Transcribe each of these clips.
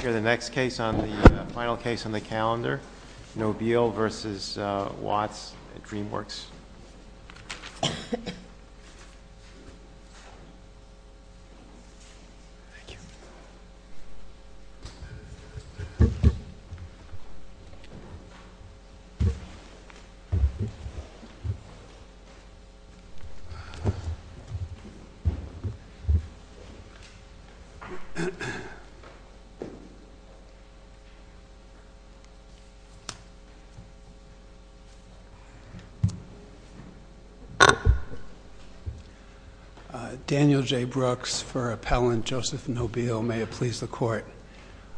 Here is the final case on the calendar, Nobile v. Watts at DreamWorks. Daniel J. Brooks for appellant Joseph Nobile. May it please the court.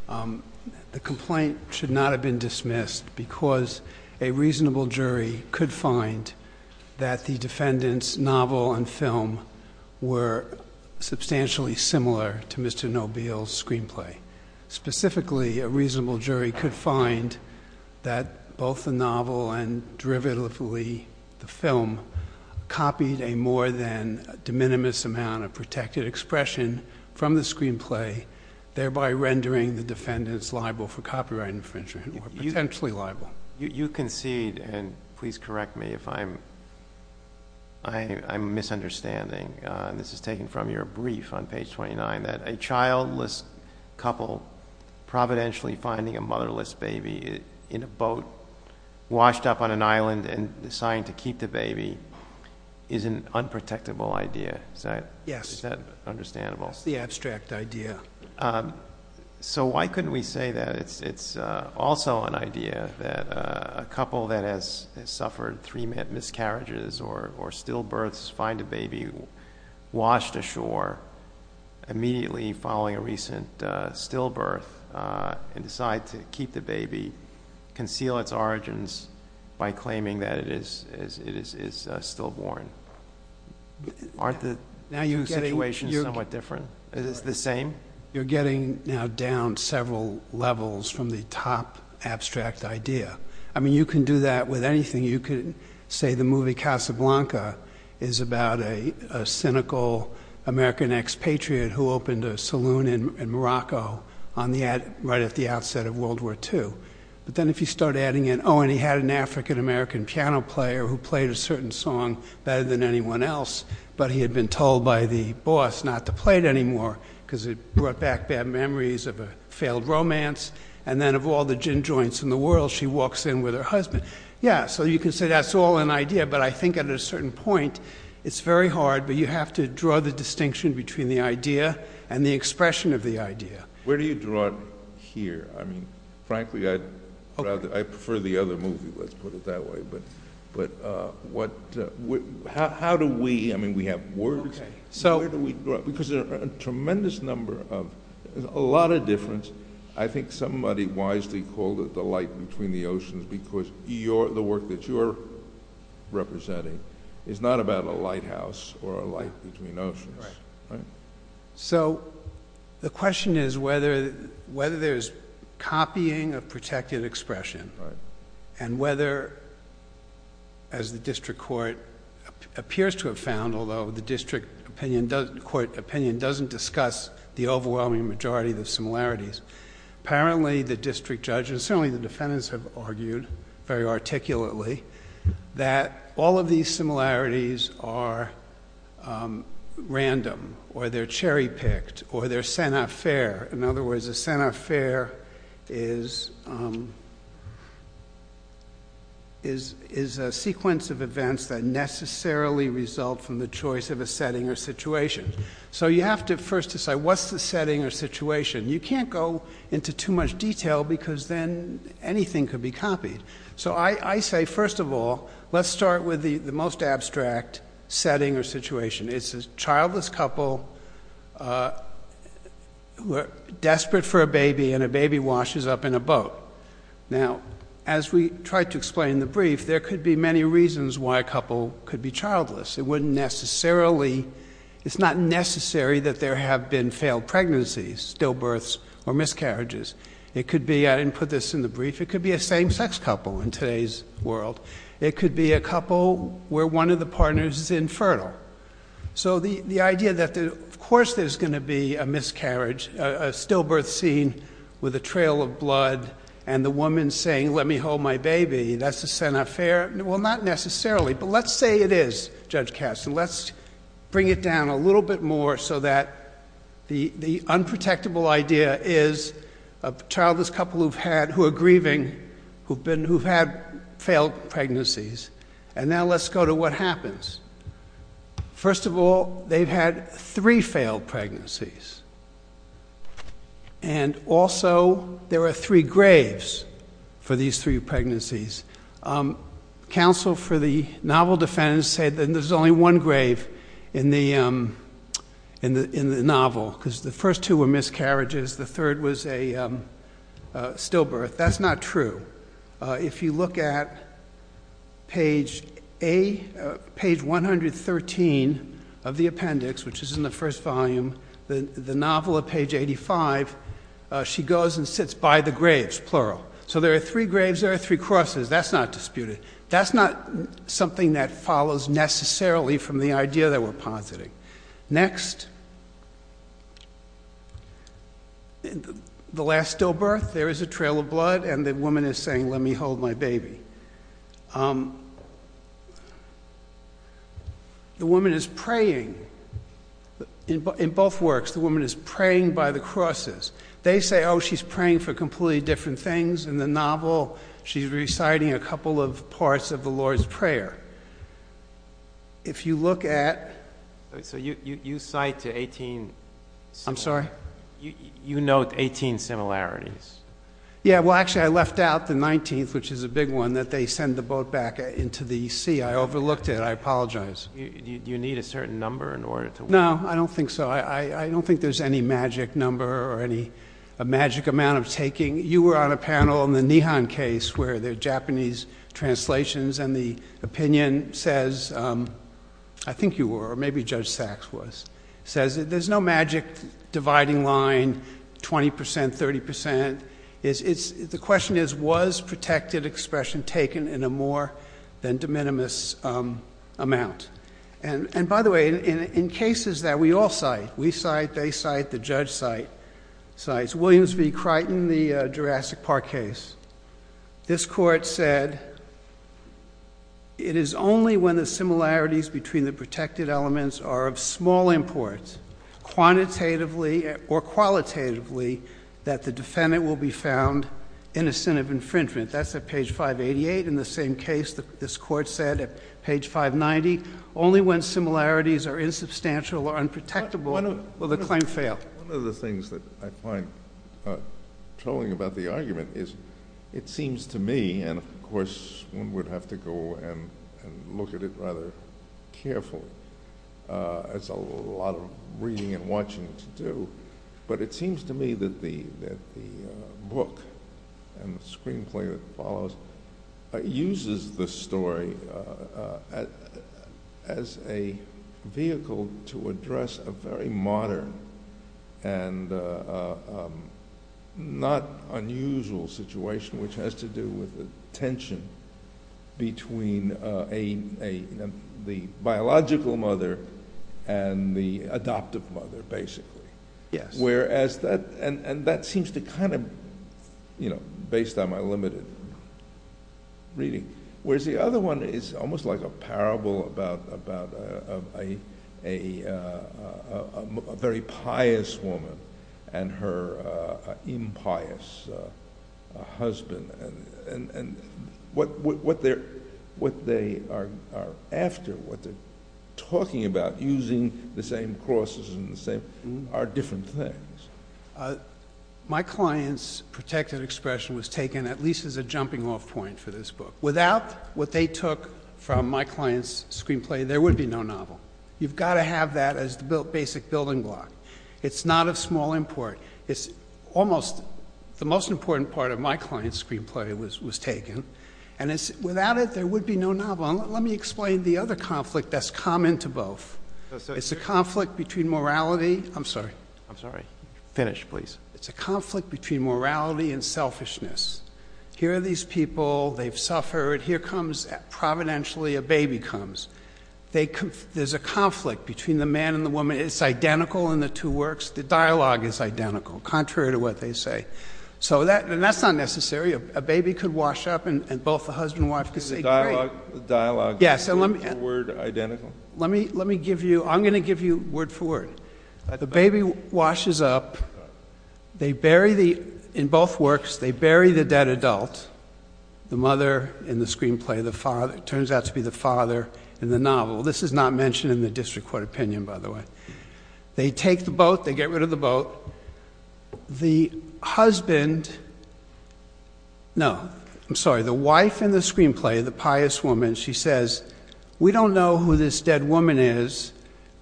The complaint should not have been dismissed because a reasonable jury could find that the defendant's novel and film were substantially similar to Mr. Nobile's screenplay. Specifically, a reasonable jury could find that both the novel and derivatively the film copied a more than de minimis amount of protected expression from the screenplay, thereby rendering the defendants liable for copyright infringement or potentially liable. You concede, and please correct me if I'm misunderstanding, this is taken from your brief on page 29, that a childless couple providentially finding a motherless baby in a boat washed up on an island and deciding to keep the baby is an unprotectable idea. Yes. Is that understandable? That's the abstract idea. So why couldn't we say that it's also an idea that a couple that has suffered three miscarriages or stillbirths find a baby washed ashore immediately following a recent stillbirth and decide to keep the baby, conceal its origins by claiming that it is stillborn? Aren't the situations somewhat different? Is it the same? You're getting now down several levels from the top abstract idea. I mean, you can do that with anything. You could say the movie Casablanca is about a cynical American expatriate who opened a saloon in Morocco right at the outset of World War II. But then if you start adding in, oh, and he had an African-American piano player who played a certain song better than anyone else, but he had been told by the boss not to play it anymore because it brought back bad memories of a failed romance. And then of all the gin joints in the world, she walks in with her husband. Yeah, so you can say that's all an idea, but I think at a certain point, it's very hard, but you have to draw the distinction between the idea and the expression of the idea. Where do you draw it here? I mean, frankly, I'd rather, I prefer the other movie, let's put it that way. But how do we, I mean, we have words. Where do we draw it? Because there are a tremendous number of, a lot of difference. I think somebody wisely called it the light between the oceans because the work that you're representing is not about a lighthouse or a light between oceans. So the question is whether there's copying of protected expression and whether, as the district court appears to have found, although the district court opinion doesn't discuss the overwhelming majority of the similarities, apparently the district judges, certainly the defendants have argued very articulately that all of these similarities are, are not random or they're cherry picked or they're center fair. In other words, a center fair is a sequence of events that necessarily result from the choice of a setting or situation. So you have to first decide what's the setting or situation. You can't go into too much detail because then anything could be copied. So I say, first of all, let's start with the situation. It's a childless couple who are desperate for a baby and a baby washes up in a boat. Now, as we tried to explain in the brief, there could be many reasons why a couple could be childless. It wouldn't necessarily, it's not necessary that there have been failed pregnancies, stillbirths or miscarriages. It could be, I didn't put this in the brief, it could be a same sex couple in today's world. It could be a couple where one of the partners is infertile. So the, the idea that of course there's going to be a miscarriage, a stillbirth scene with a trail of blood and the woman saying, let me hold my baby, that's a center fair. Well, not necessarily, but let's say it is Judge Kasten. Let's bring it down a little bit more so that the, the unprotectable idea is a childless couple who've had, who First of all, they've had three failed pregnancies. And also there are three graves for these three pregnancies. Um, counsel for the novel defendants said that there's only one grave in the, um, in the, in the novel because the first two were miscarriages. The third was a, um, uh, stillbirth. That's not true. Uh, if you look at page a page 113 of the appendix, which is in the first volume, the, the novel of page 85, uh, she goes and sits by the graves, plural. So there are three graves, there are three crosses. That's not disputed. That's not something that follows necessarily from the idea that we're positing. Next, the last stillbirth, there is a trail of blood and the woman is saying, let me hold my baby. Um, the woman is praying in both works. The woman is praying by the crosses. They say, oh, she's praying for completely different things in the novel. She's reciting a couple of parts of the Lord's prayer. If you look at, so you, you, you cite to 18, I'm sorry, you note 18 similarities. Yeah. Well, actually I left out the 19th, which is a big one that they send the boat back into the sea. I overlooked it. I apologize. You need a certain number in order to, no, I don't think so. I don't think there's any magic number or any, a magic amount of taking. You were on a panel in the Nihon case where they're Japanese translations and the opinion says, um, I think you were, or maybe judge sacks was says that there's no magic dividing line. 20% 30% is it's the question is, was protected expression taken in a more than de minimis, um, amount. And, and by the way, in, in cases that we all cite, we cite, they cite the judge site sites, Williams V Crichton, the Jurassic park case. This court said it is only when the similarities between the protected elements are of small imports quantitatively or qualitatively that the defendant will be found innocent of infringement. That's a page five 88. In the same case that this court said at page five 90 only when similarities are insubstantial or unprotectable, will the claim fail? One of the things that I find trolling about the argument is it seems to me, and of course one would have to go and, and look at it rather careful. Uh, it's a lot of reading and watching to do, but it seems to me that the, that the, uh, book and the screenplay that follows, uh, uses the vehicle to address a very modern and, uh, um, not unusual situation, which has to do with the tension between, uh, a, a, the biological mother and the adoptive mother basically. Whereas that, and that seems to kind of, you know, based on my limited reading. Whereas the other one is almost like a parable about, about, uh, a, a, uh, a very pious woman and her, uh, impious, uh, husband and, and, and what, what, what they're, what they are, are after, what they're talking about using the same crosses and the same are different things. Uh, my client's protected expression was taken at least as a jumping off point for this book. Without what they took from my client's screenplay, there would be no novel. You've got to have that as the built basic building block. It's not a small import. It's almost the most important part of my client's screenplay was, was taken and it's without it, there would be no novel. Let me explain the other conflict that's common to both. It's a conflict between morality. I'm finished, please. It's a conflict between morality and selfishness. Here are these people, they've suffered. Here comes providentially, a baby comes. They, there's a conflict between the man and the woman. It's identical in the two works. The dialogue is identical, contrary to what they say. So that, and that's not necessary. A baby could wash up and both the husband and wife could say great. Dialogue, dialogue. Yes. And let me, let me give you, I'm going to give you word for word. The baby washes up, they bury the, in both works, they bury the dead adult, the mother in the screenplay, the father, it turns out to be the father in the novel. This is not mentioned in the district court opinion, by the way. They take the boat, they get rid of the boat. The husband, no, I'm sorry. The wife in the screenplay, the pious woman, she says, we don't know who this dead woman is,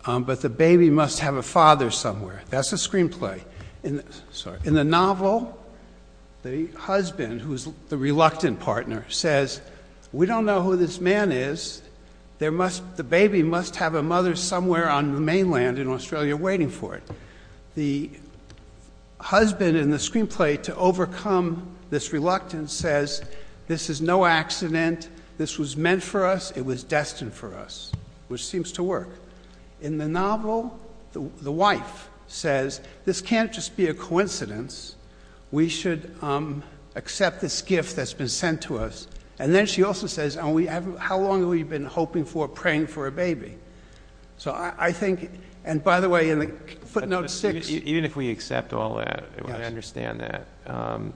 but the baby must have a father somewhere. That's a screenplay. In the novel, the husband, who's the reluctant partner, says, we don't know who this man is. There must, the baby must have a mother somewhere on the mainland in Australia waiting for it. The husband in the screenplay to overcome this reluctance says, this is no accident. This was meant for us. It was destined for us, which seems to work. In the novel, the wife says, this can't just be a coincidence. We should, um, accept this gift that's been sent to us. And then she also says, and we haven't, how long have we been hoping for, praying for a baby? So I think, and by the way, in the footnote six. Even if we accept all that, I understand that, um,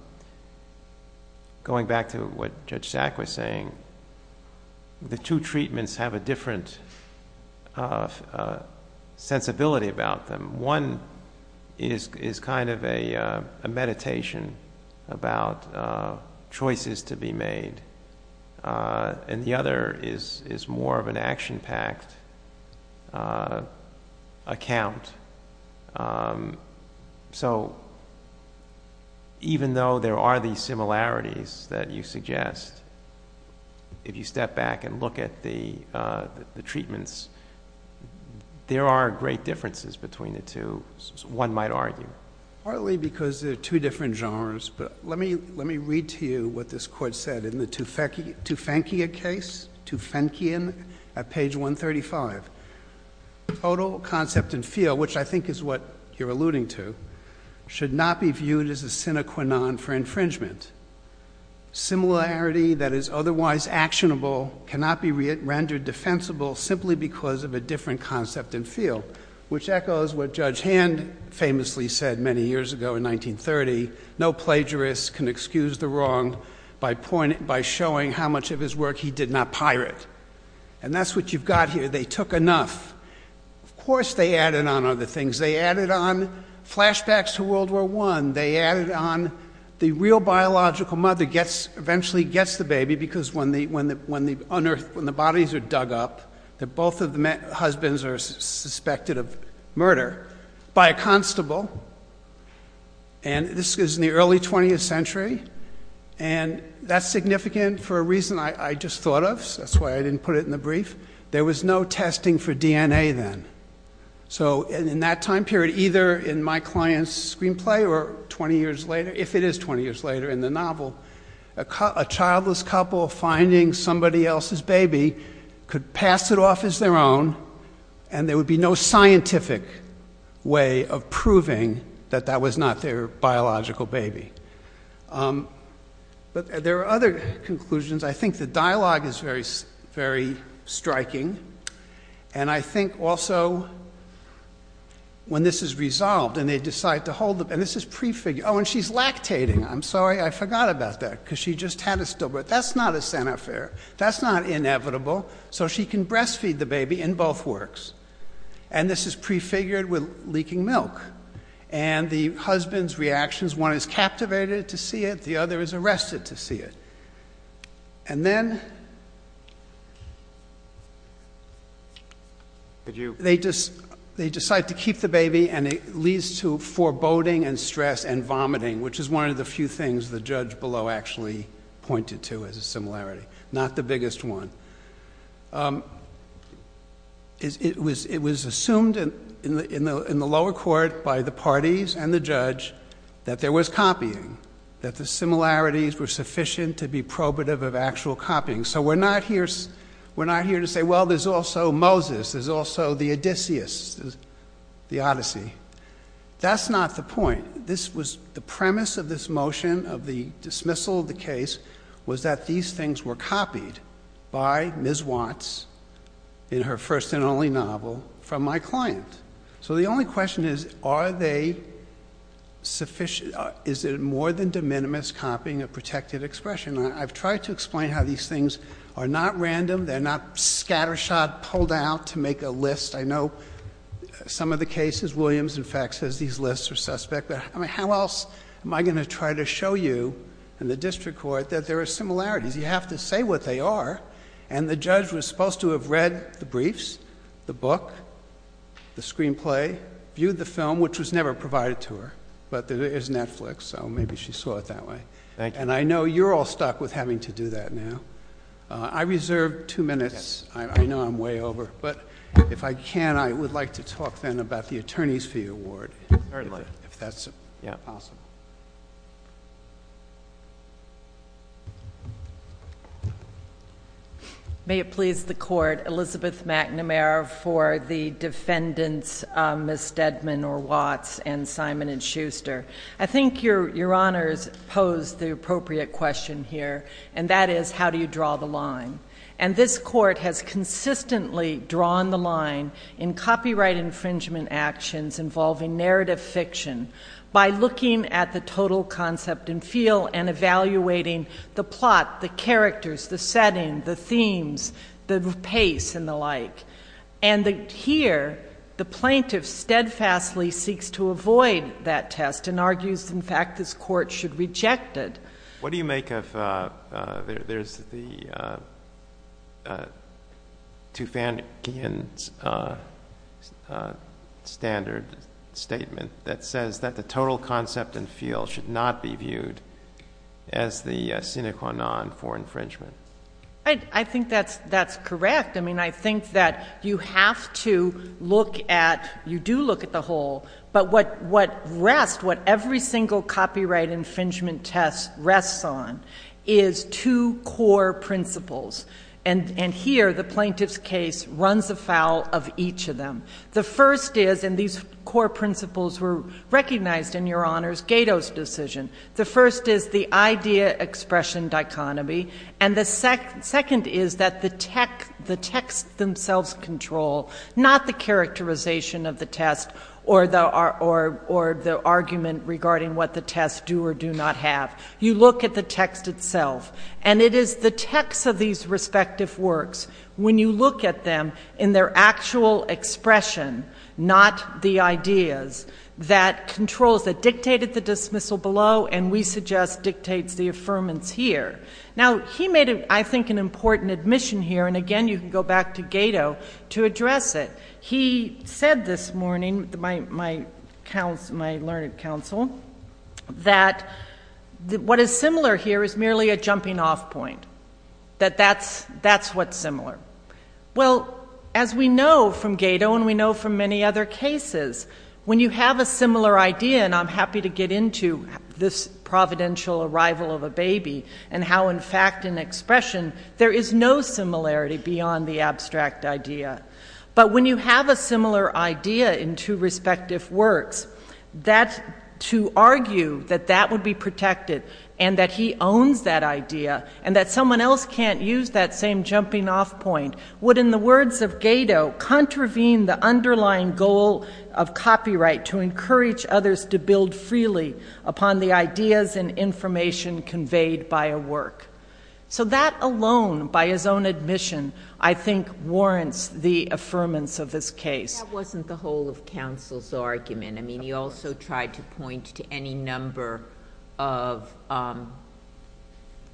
going back to what Judge Sack was saying, the two treatments have a different, uh, uh, sensibility about them. One is, is kind of a, uh, a meditation about, uh, choices to be made. Uh, and the other is, is more of an action packed, uh, account. Um, so even though there are these similarities that you suggest, if you step back and look at the, uh, the, the treatments, there are great differences between the two, one might argue. Partly because there are two different genres, but let me, let me read to you what this court said in the Tufankia case, Tufankian at page 135. Total concept and feel, which I think is what you're alluding to, should not be viewed as a sine qua non for infringement. Similarity that is otherwise actionable cannot be rendered defensible simply because of a different concept and feel, which echoes what Judge Hand famously said many years ago in 1930, no plagiarist can excuse the wrong by pointing, by showing how much of his work he did not pirate. And that's what you've got here. They took enough. Of course, they added on other things. They added on flashbacks to world war one. They added on the real biological mother gets eventually gets the baby because when the, when the, when the unearthed, when the bodies are dug up that both of the husbands are suspected of murder by a constable. And this is in the early 20th century. And that's significant for a reason I just thought of. So that's why I didn't put it in the brief. There was no testing for DNA then. So in that time period, either in my client's screenplay or 20 years later, if it is 20 years later in the novel, a childless couple finding somebody else's baby could pass it off as their own. And there would be no scientific way of proving that that was not their biological baby. But there are other conclusions. I think the striking. And I think also when this is resolved and they decide to hold them and this is prefigure Oh, and she's lactating. I'm sorry. I forgot about that because she just had a stillbirth. That's not a center fair. That's not inevitable. So she can breastfeed the baby in both works. And this is prefigured with leaking milk and the husband's reactions. One is captivated to see it. The other is arrested to see it. And then they decide to keep the baby and it leads to foreboding and stress and vomiting, which is one of the few things the judge below actually pointed to as a similarity. Not the biggest one. It was assumed in the lower court by the parties and the judge that there was copying, that the similarities were sufficient to be probative of actual copying. So we're not here. We're not here to say, well, there's also Moses. There's also the Odysseus, the Odyssey. That's not the point. This was the premise of this motion of the dismissal of the case was that these things were copied by Ms. Watts in her first and only novel from my client. So the only question is, are they sufficient? Is it more than de minimis copying a protected expression? I've tried to explain how these things are not random. They're not scattershot pulled out to make a list. I know some of the cases, Williams, in fact, says these lists are suspect. But I mean, how else am I going to try to show you and the district court that there are similarities? You have to say what they are. And the judge was supposed to have read the briefs, the book, the screenplay, viewed the film, which was never provided to her, but there is Netflix. So maybe she saw it that way. And I know you're all stuck with having to do that now. I reserved two minutes. I know I'm way over, but if I can, I would like to talk then about the attorney's fee award. If that's possible. May it please the court, Elizabeth McNamara for the defendants, Ms. Steadman or Watts and Simon and Schuster. I think your honors pose the appropriate question here, and that is how do you draw the line? And this court has consistently drawn the line in copyright infringement actions involving narrative fiction by looking at the total concept and feel and evaluating the plot, the characters, the setting, the themes, the pace, and the like. And here, the plaintiff steadfastly seeks to avoid that test and argues, in fact, this court should reject it. What do you make of, there's the Tufankhian standard statement that says that the total concept and feel should not be viewed as the sine qua non for infringement. I think that's correct. I mean, I think that you have to look at, you do look at the whole, but what rest, what every single copyright infringement test rests on is two core principles. And here, the plaintiff's case runs afoul of each of them. The first is, and these core principles were recognized in your honors, Gato's decision. The first is the idea expression dichotomy. And the second is that the text themselves control, not the characterization of the test or the argument regarding what the test do or do not have. You look at the text itself. And it is the text of these respective works, when you look at them in their actual expression, not the ideas, that controls, that dictated the dismissal below, and we suggest dictates the affirmance here. Now, he made, I think, an important admission here, and again, you can go back to Gato to address it. He said this morning, my learned counsel, that what is similar here is merely a jumping off point, that that's what's similar. Well, as we know from Gato, and we know from many other cases, when you have a similar idea, and I'm happy to get into this providential arrival of a baby, and how, in fact, in expression, there is no similarity beyond the abstract idea. But when you have a similar idea in two respective works, that to argue that that would be protected, and that he owns that idea, and that someone else can't use that same jumping off point, would, in the words of Gato, contravene the underlying goal of copyright to encourage others to build freely upon the ideas and information conveyed by a work. So that alone, by his own admission, I think warrants the affirmance of this case. That wasn't the whole of counsel's argument. I mean, he also tried to point to any number of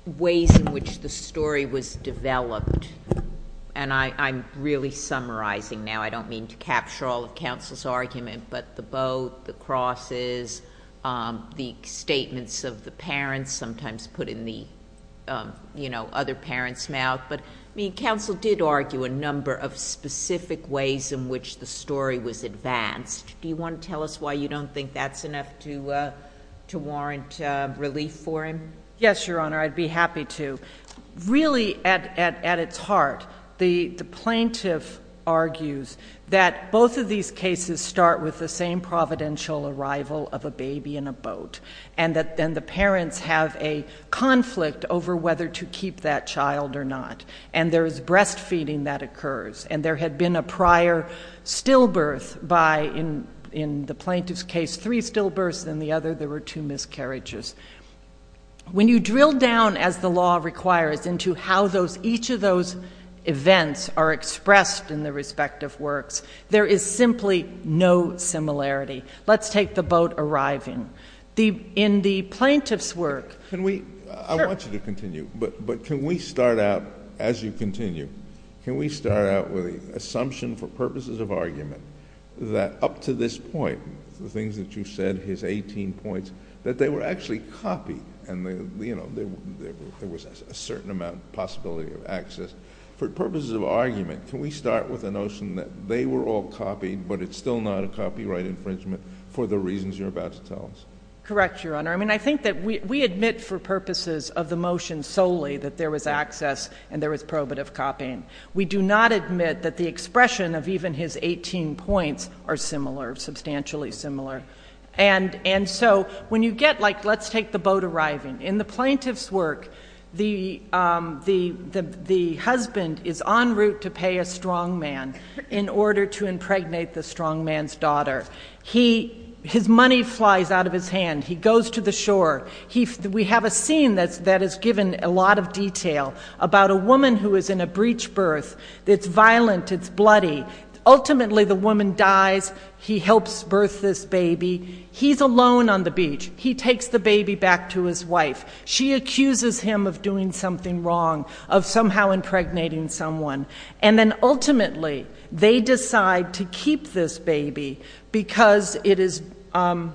ways in which the story was developed, and I'm really summarizing now. I don't mean to capture all of counsel's argument, but the boat, the crosses, the statements of the parents, sometimes put in the other parent's mouth. But counsel did argue a number of specific ways in which the story was advanced. Do you want to tell us why you don't think that's enough to warrant relief for him? Yes, Your Honor, I'd be happy to. Really, at its heart, the plaintiff argues that both of these cases start with the same providential arrival of a baby in a boat, and that then the conflict over whether to keep that child or not, and there is breastfeeding that occurs, and there had been a prior stillbirth by, in the plaintiff's case, three stillbirths, and the other, there were two miscarriages. When you drill down, as the law requires, into how each of those events are expressed in the respective works, there is simply no similarity. Let's take the boat arriving. In the plaintiff's work... I want you to continue, but can we start out, as you continue, can we start out with the assumption, for purposes of argument, that up to this point, the things that you said, his 18 points, that they were actually copied, and there was a certain amount of possibility of access. For purposes of argument, can we start with the notion that they were all Correct, Your Honor. I mean, I think that we admit, for purposes of the motion solely, that there was access and there was probative copying. We do not admit that the expression of even his 18 points are similar, substantially similar, and so when you get, like, let's take the boat arriving. In the plaintiff's work, the husband is en route to pay a strongman in order to impregnate the strongman's daughter. His money flies out of his hand. He goes to the shore. We have a scene that is given a lot of detail about a woman who is in a breach birth that's violent, it's bloody. Ultimately, the woman dies. He helps birth this baby. He's alone on the beach. He takes the baby back to his wife. She accuses him of doing something wrong, of somehow impregnating someone, and then ultimately, they decide to keep this baby because it is, and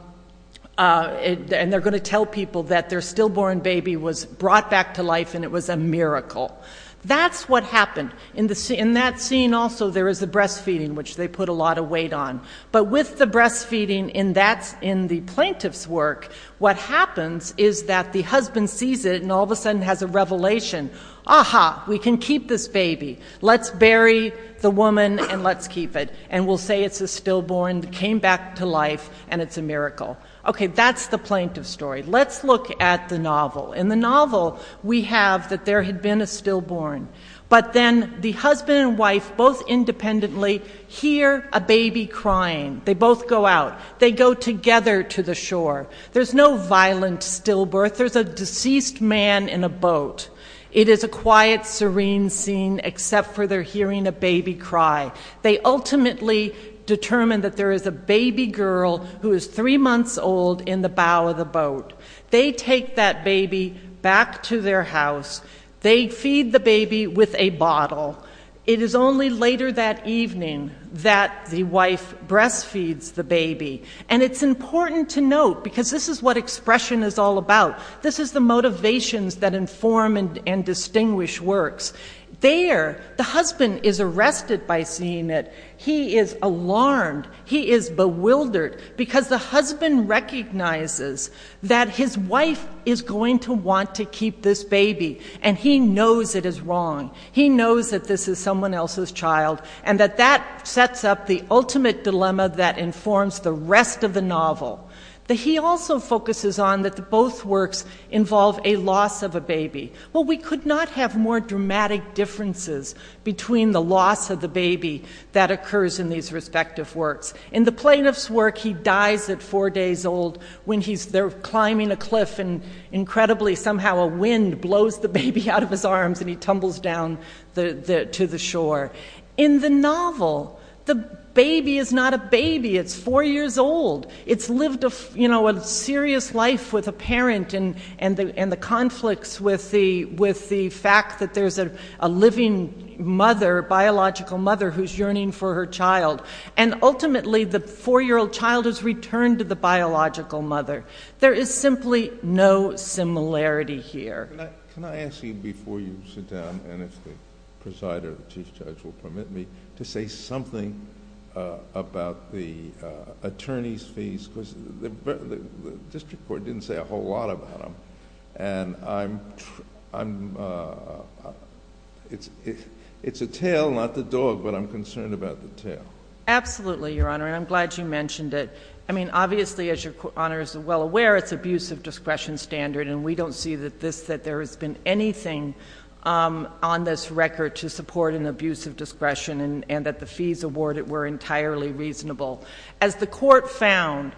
they're going to tell people that their stillborn baby was brought back to life and it was a miracle. That's what happened. In that scene also, there is the breastfeeding, which they put a lot of weight on, but with the breastfeeding in the plaintiff's work, what happens is that the husband sees it and all of a sudden has a revelation. Ah-ha, we can keep this baby. Let's bury the woman and let's keep it, and we'll say it's a stillborn that came back to life and it's a miracle. Okay, that's the plaintiff's story. Let's look at the novel. In the novel, we have that there had been a stillborn, but then the husband and wife both independently hear a baby crying. They both go out. They go together to the shore. There's no violent stillbirth. There's a deceased man in a boat. It is a quiet, serene scene, except for they're hearing a baby cry. They ultimately determine that there is a baby girl who is three months old in the bow of the boat. They take that baby back to their house. They feed the baby with a bottle. It is only later that evening that the wife breastfeeds the baby, and it's important to note, because this is what expression is all about, this is the motivations that inform and distinguish works. There, the husband is arrested by seeing it. He is alarmed. He is bewildered because the husband recognizes that his wife is going to want to keep this baby, and he knows it is wrong. He knows that this is the novel. He also focuses on that both works involve a loss of a baby. Well, we could not have more dramatic differences between the loss of the baby that occurs in these respective works. In the plaintiff's work, he dies at four days old when they're climbing a cliff, and incredibly somehow a wind blows the baby out of his arms, and he tumbles down to the shore. In the novel, the baby is not a baby. It's four years old. It's lived a serious life with a parent, and the conflicts with the fact that there's a living mother, biological mother, who's yearning for her child. Ultimately, the four-year-old child is returned to the biological mother. There is simply no similarity here. Can I ask you before you sit down, and if the presider, the Chief Judge, will permit me, to say something about the attorney's fees? Because the district court didn't say a whole lot about them. It's a tail, not the dog, but I'm concerned about the tail. Absolutely, Your Honor, and I'm glad you mentioned it. I mean, obviously, as Your Honor is well aware, it's abuse of discretion standard, and we don't see that there has been anything on this record to support an abuse of discretion, and that the fees awarded were entirely reasonable. As the court found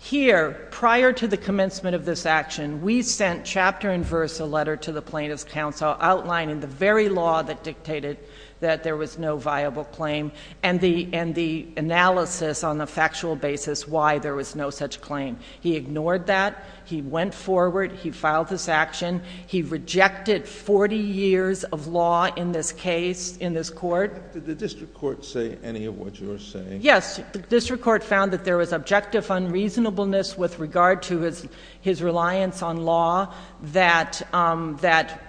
here, prior to the commencement of this action, we sent chapter and verse, a letter to the plaintiff's counsel outlining the very law that dictated that there was no viable claim, and the analysis on a factual basis why there was no such claim. He ignored that. He went forward. He filed this action. He rejected 40 years of law in this case, in this court. Did the district court say any of what you're saying? Yes, the district court found that there was objective unreasonableness with regard to his reliance on law that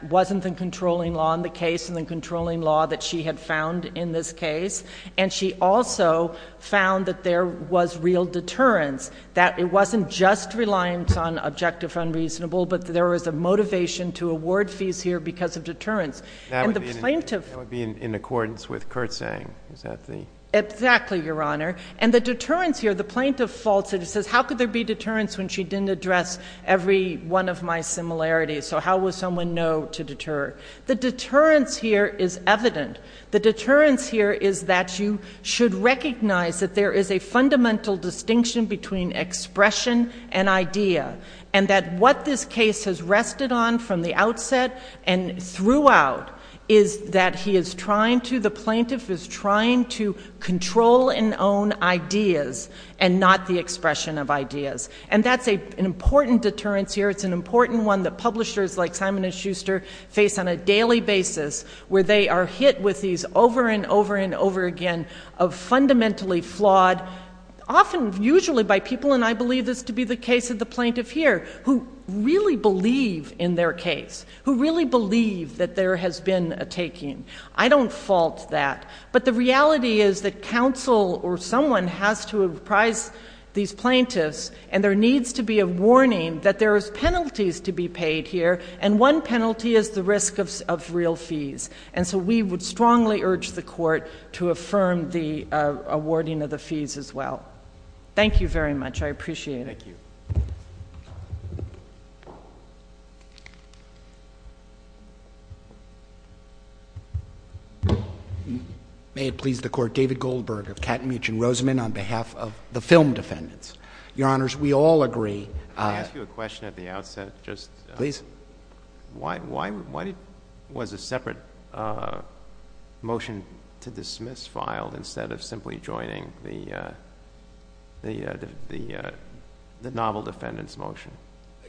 wasn't the controlling law in the case, and the controlling law that she had found in this case, and she also found that there was real deterrence, that it wasn't just reliance on objective unreasonable, but there was a motivation to award fees here because of deterrence. That would be in accordance with Kurt saying. Exactly, Your Honor, and the deterrence here, the plaintiff faltered. He says, how could there be deterrence when she didn't address every one of my similarities, so how would someone know to deter? The deterrence here is evident. The deterrence here is that you should recognize that there is a fundamental distinction between expression and idea, and that what this case has rested on from the outset and throughout is that he is trying to, the plaintiff is trying to control and own ideas and not the expression of ideas, and that's an important deterrence here. It's an important one that publishers like Simon and Schuster face on a daily basis where they are hit with these over and over and over again of fundamentally flawed, often usually by people, and I believe this to be the case of the plaintiff here, who really believe in their case, who really believe that there has been a taking. I don't fault that, but the reality is that counsel or someone has to apprise these plaintiffs, and there needs to be a warning that there are penalties to be paid here, and one penalty is the risk of real fees, and so we would strongly urge the Court to affirm the awarding of the fees as well. Thank you very much. I appreciate it. May it please the Court, David Goldberg of Katmich and Rosamond on behalf of the film defendants. Your Honors, we all agree. Can I ask you a question at the outset? Please. Why was a separate motion to dismiss filed instead of simply joining the novel defendant's motion?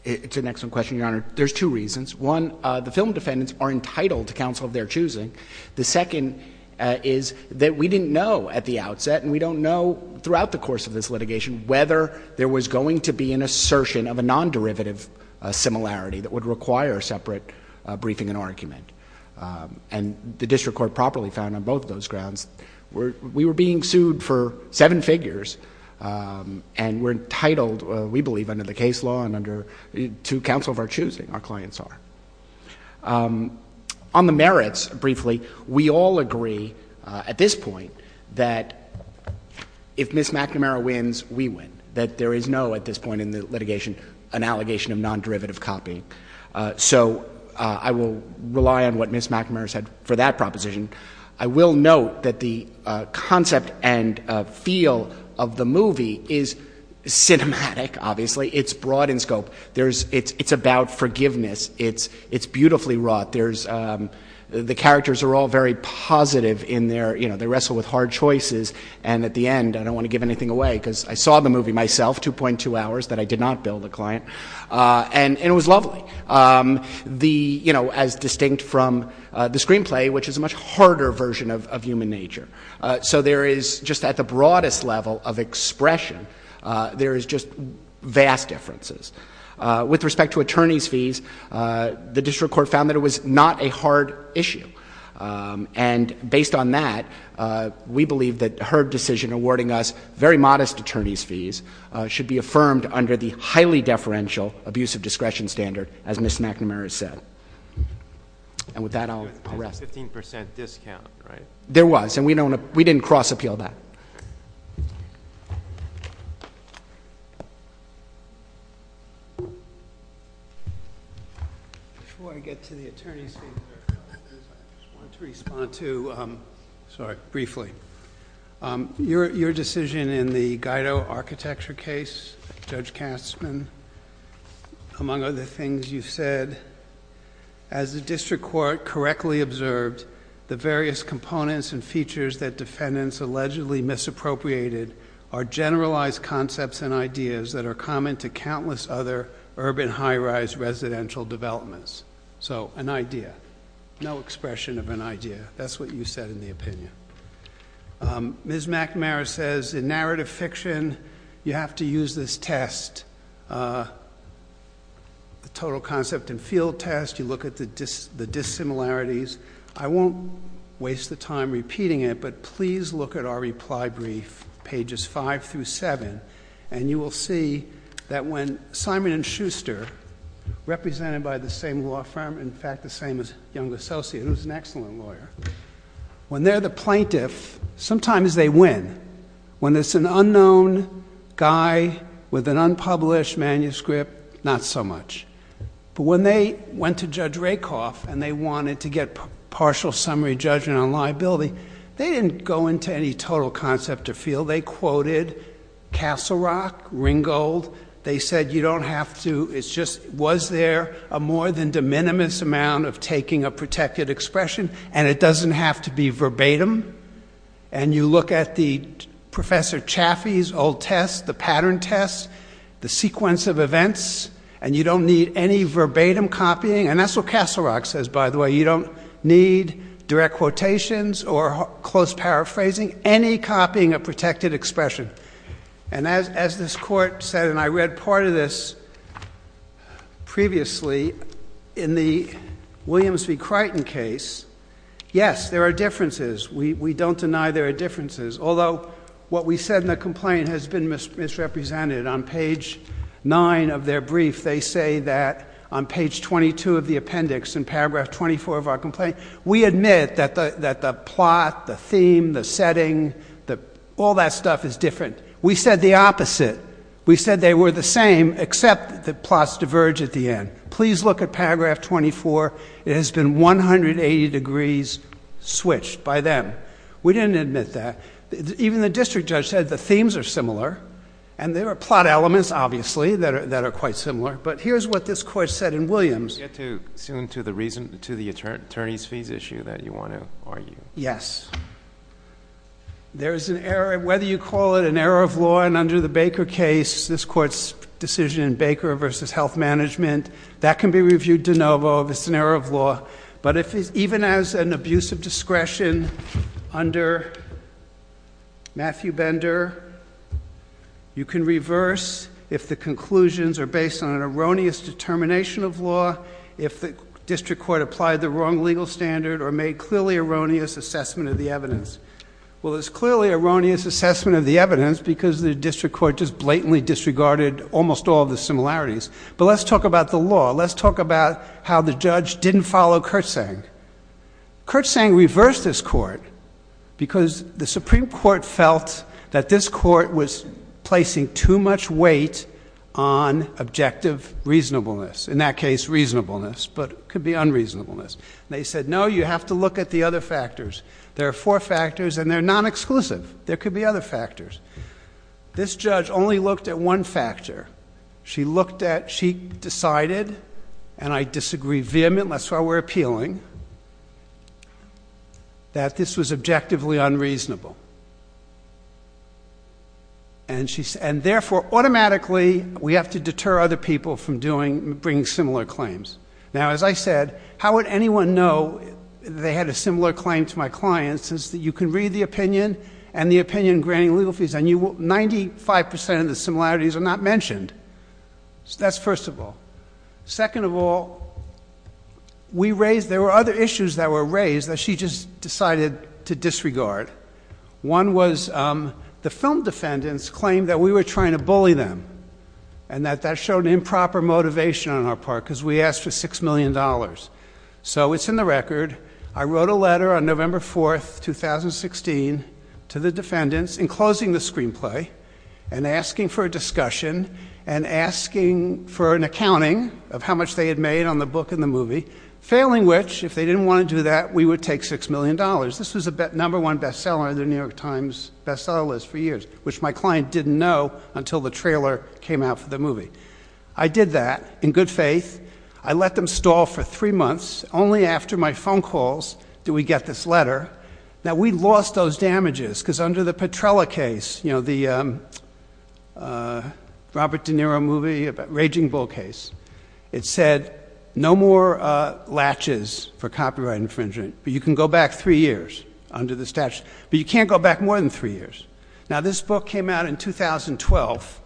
It's an excellent question, Your Honor. There's two reasons. One, the film defendants are entitled to counsel of their choosing. The second is that we didn't know at the outset, and we don't know throughout the course of this litigation, whether there was going to be an assertion of a non-derivative similarity that would require separate briefing and argument, and the District Court properly found on both those grounds. We were being sued for seven figures, and we're entitled, we believe, under the case law and under to counsel of our choosing, our clients are. On the merits, briefly, we all agree at this point that if Ms. McNamara wins, we win. That there is no, at this point in the litigation, an allegation of non-derivative copy. So I will rely on what Ms. McNamara said for that proposition. I will note that the concept and feel of the movie is cinematic, obviously. It's broad in scope. It's about forgiveness. It's beautifully wrought. The characters are all very positive in their, you know, they wrestle with hard choices, and at the end, I don't want to give anything away, because I saw the movie myself, 2.2 hours, that I did not bill the client, and it was lovely. The, you know, as distinct from the screenplay, which is a much harder version of human nature. So there is, just at the broadest of expression, there is just vast differences. With respect to attorney's fees, the district court found that it was not a hard issue. And based on that, we believe that her decision awarding us very modest attorney's fees should be affirmed under the highly deferential abuse of discretion standard, as Ms. McNamara said. And with that, I'll rest. 15% discount, right? There was, and we don't, we didn't cross-appeal that. Before I get to the attorney's fees, I just want to respond to, sorry, briefly. Your decision in the Guido architecture case, Judge Kastman, among other things you've said, as the district court correctly observed, the various components and features that defendants allegedly misappropriated are generalized concepts and ideas that are common to countless other urban high-rise residential developments. So, an idea. No expression of an idea. That's what you said in the opinion. Ms. McNamara says, in narrative fiction, you have to use this test, the total concept and field test. You look at the dissimilarities. I won't waste the time repeating it, but please look at our reply brief, pages five through seven, and you will see that when Simon & Schuster, represented by the same law firm, in fact, the same as Young & Associates, who's an excellent lawyer, when they're the plaintiff, sometimes they win. When it's an published manuscript, not so much. But when they went to Judge Rakoff and they wanted to get partial summary judgment on liability, they didn't go into any total concept or field. They quoted Castle Rock, Ringgold. They said, you don't have to. It's just, was there a more than de minimis amount of taking a protected expression? And it doesn't have to be verbatim. And you look at the sequence of events, and you don't need any verbatim copying. And that's what Castle Rock says, by the way. You don't need direct quotations or close paraphrasing, any copying of protected expression. And as this court said, and I read part of this previously in the Williams v. Crichton case, yes, there are differences. We don't deny there are differences. Although what we said in misrepresented on page 9 of their brief, they say that on page 22 of the appendix in paragraph 24 of our complaint, we admit that the plot, the theme, the setting, all that stuff is different. We said the opposite. We said they were the same, except the plots diverge at the end. Please look at paragraph 24. It has been 180 degrees switched by them. We didn't admit that. Even the district judge said the themes are similar. And there are plot elements, obviously, that are quite similar. But here's what this court said in Williams. You get too soon to the reason, to the attorney's fees issue that you want to argue. Yes. There is an error, whether you call it an error of law, and under the Baker case, this court's decision in Baker v. Health Management, that can be reviewed de novo if it's an error of vendor. You can reverse if the conclusions are based on an erroneous determination of law, if the district court applied the wrong legal standard or made clearly erroneous assessment of the evidence. Well, it's clearly erroneous assessment of the evidence because the district court just blatantly disregarded almost all of the similarities. But let's talk about the law. Let's talk about how the judge didn't follow Kurtzsang. Kurtzsang reversed this court because the Supreme Court felt that this court was placing too much weight on objective reasonableness. In that case, reasonableness, but it could be unreasonableness. They said, no, you have to look at the other factors. There are four factors, and they're non-exclusive. There could be other factors. This judge only looked at one factor. She looked at, she decided, and I disagree vehemently, that's why we're appealing, that this was objectively unreasonable. And therefore, automatically, we have to deter other people from doing, bringing similar claims. Now, as I said, how would anyone know they had a similar claim to my client since you can read the opinion and the opinion in granting legal fees and you will, 95% of the similarities are not mentioned. So that's first of all. Second of all, we raised, there were other issues that were raised that she just decided to disregard. One was the film defendants claimed that we were trying to bully them and that that showed improper motivation on our part because we asked for $6 million in damages in 2016 to the defendants in closing the screenplay and asking for a discussion and asking for an accounting of how much they had made on the book and the movie, failing which, if they didn't want to do that, we would take $6 million. This was the number one bestseller in the New York Times bestseller list for years, which my client didn't know until the trailer came out for the movie. I did that in good faith. I let them stall for three months. Only after my phone calls do we get this letter. Now we lost those damages because under the Petrella case, you know, the Robert De Niro movie about raging bull case, it said no more latches for copyright infringement, but you can go back three years under the statute, but you can't go back more than three years. Now this book came out in 2012.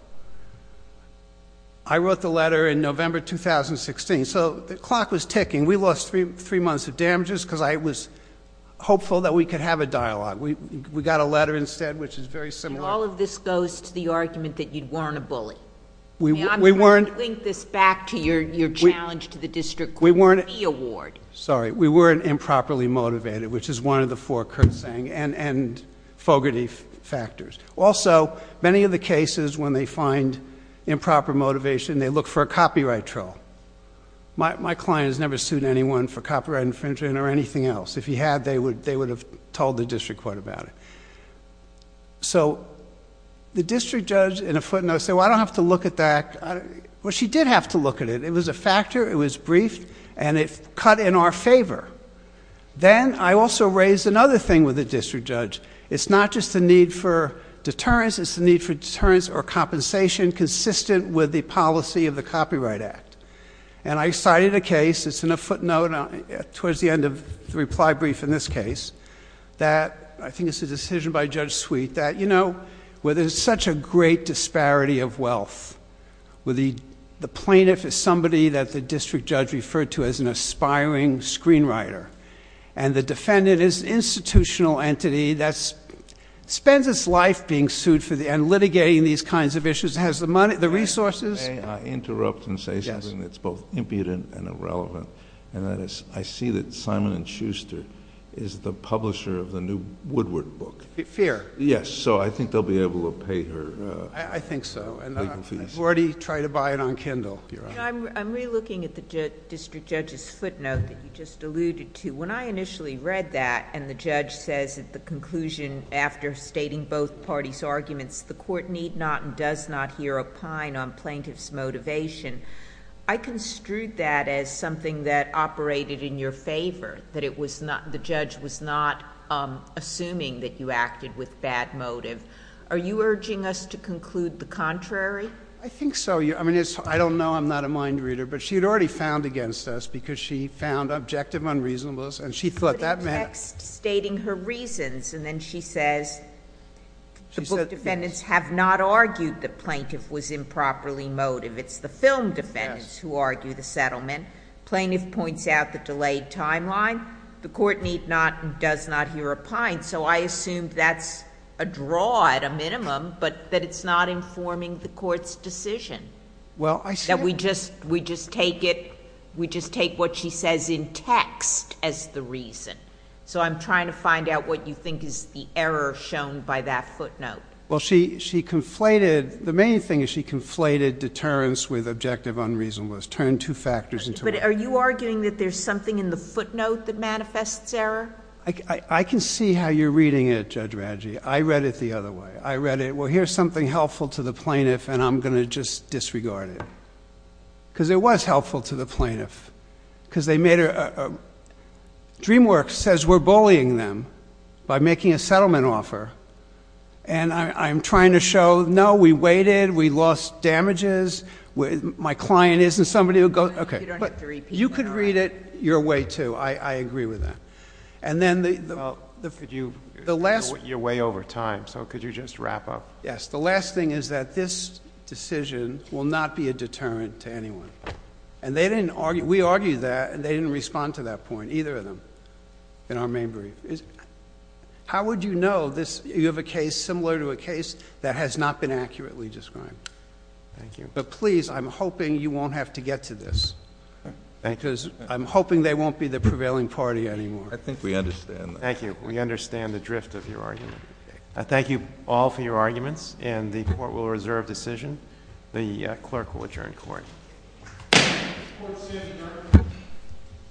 I wrote the letter in November 2016. So the clock was ticking. We lost three months of damages because I was hopeful that we could have a dialogue. We got a letter instead, which is very similar. And all of this goes to the argument that you weren't a bully. I'm going to link this back to your challenge to the district court award. Sorry, we weren't improperly motivated, which is one of the four, Kurt saying, and fogarty factors. Also many of the cases when they find improper motivation, they look for a copyright troll. My client has never sued anyone for copyright infringement or anything else. If he had, they would have told the district court about it. So the district judge in a footnote said, well, I don't have to look at that. Well, she did have to look at it. It was a factor. It was briefed and it cut in our favor. Then I also raised another thing with the district judge. It's not just the need for deterrence, it's the need for deterrence or compensation consistent with the policy of the Copyright Act. And I cited a case, it's in a footnote towards the end of the reply brief in this case, that I think it's a decision by Judge Sweet that, you know, where there's such a great disparity of wealth, where the plaintiff is somebody that the district judge referred to as an aspiring screenwriter. And the defendant is institutional entity that spends its life being sued for the end, litigating these kinds of issues, has the money, the resources. And may I interrupt and say something that's both impudent and irrelevant. And that is, I see that Simon & Schuster is the publisher of the new Woodward book. Fair. Yes. So I think they'll be able to pay her. I think so. And I've already tried to buy it on Kindle. I'm re-looking at the district judge's footnote that you just alluded to. When I initially read that and the judge says at the conclusion after stating both parties' arguments, the court need not and does not hear a pine on plaintiff's motivation. I construed that as something that operated in your favor, that the judge was not assuming that you acted with bad motive. Are you urging us to conclude the contrary? I think so. I mean, I don't know. I'm not a mind reader. But she had already found against us because she found objective unreasonableness. And she thought that meant- But in the text stating her reasons, and then she says the book defendants have not argued the plaintiff was improperly motive. It's the film defendants who argue the settlement. Plaintiff points out the delayed timeline. The court need not and does not hear a pine. So I I'm trying to find out what you think is the error shown by that footnote. Well, she conflated, the main thing is she conflated deterrence with objective unreasonableness. Turned two factors into one. But are you arguing that there's something in the footnote that manifests error? I can see how you're reading it, Judge Radji. I read it the other way. I read it, here's something helpful to the plaintiff, and I'm going to just disregard it. Because it was helpful to the plaintiff. DreamWorks says we're bullying them by making a settlement offer. And I'm trying to show, no, we waited. We lost damages. My client isn't somebody who goes, okay. But you could read it your way, too. I agree with that. And then- The last- You're way over time, so could you just wrap up? Yes. The last thing is that this decision will not be a deterrent to anyone. And they didn't argue, we argued that, and they didn't respond to that point, either of them, in our main brief. How would you know this, you have a case, similar to a case, that has not been accurately described? Thank you. But please, I'm hoping you won't have to get to this. Thank you. I'm hoping they won't be the prevailing party anymore. I think we understand. Thank you. We understand the drift of your argument. Thank you all for your arguments, and the court will reserve decision. The clerk will adjourn court.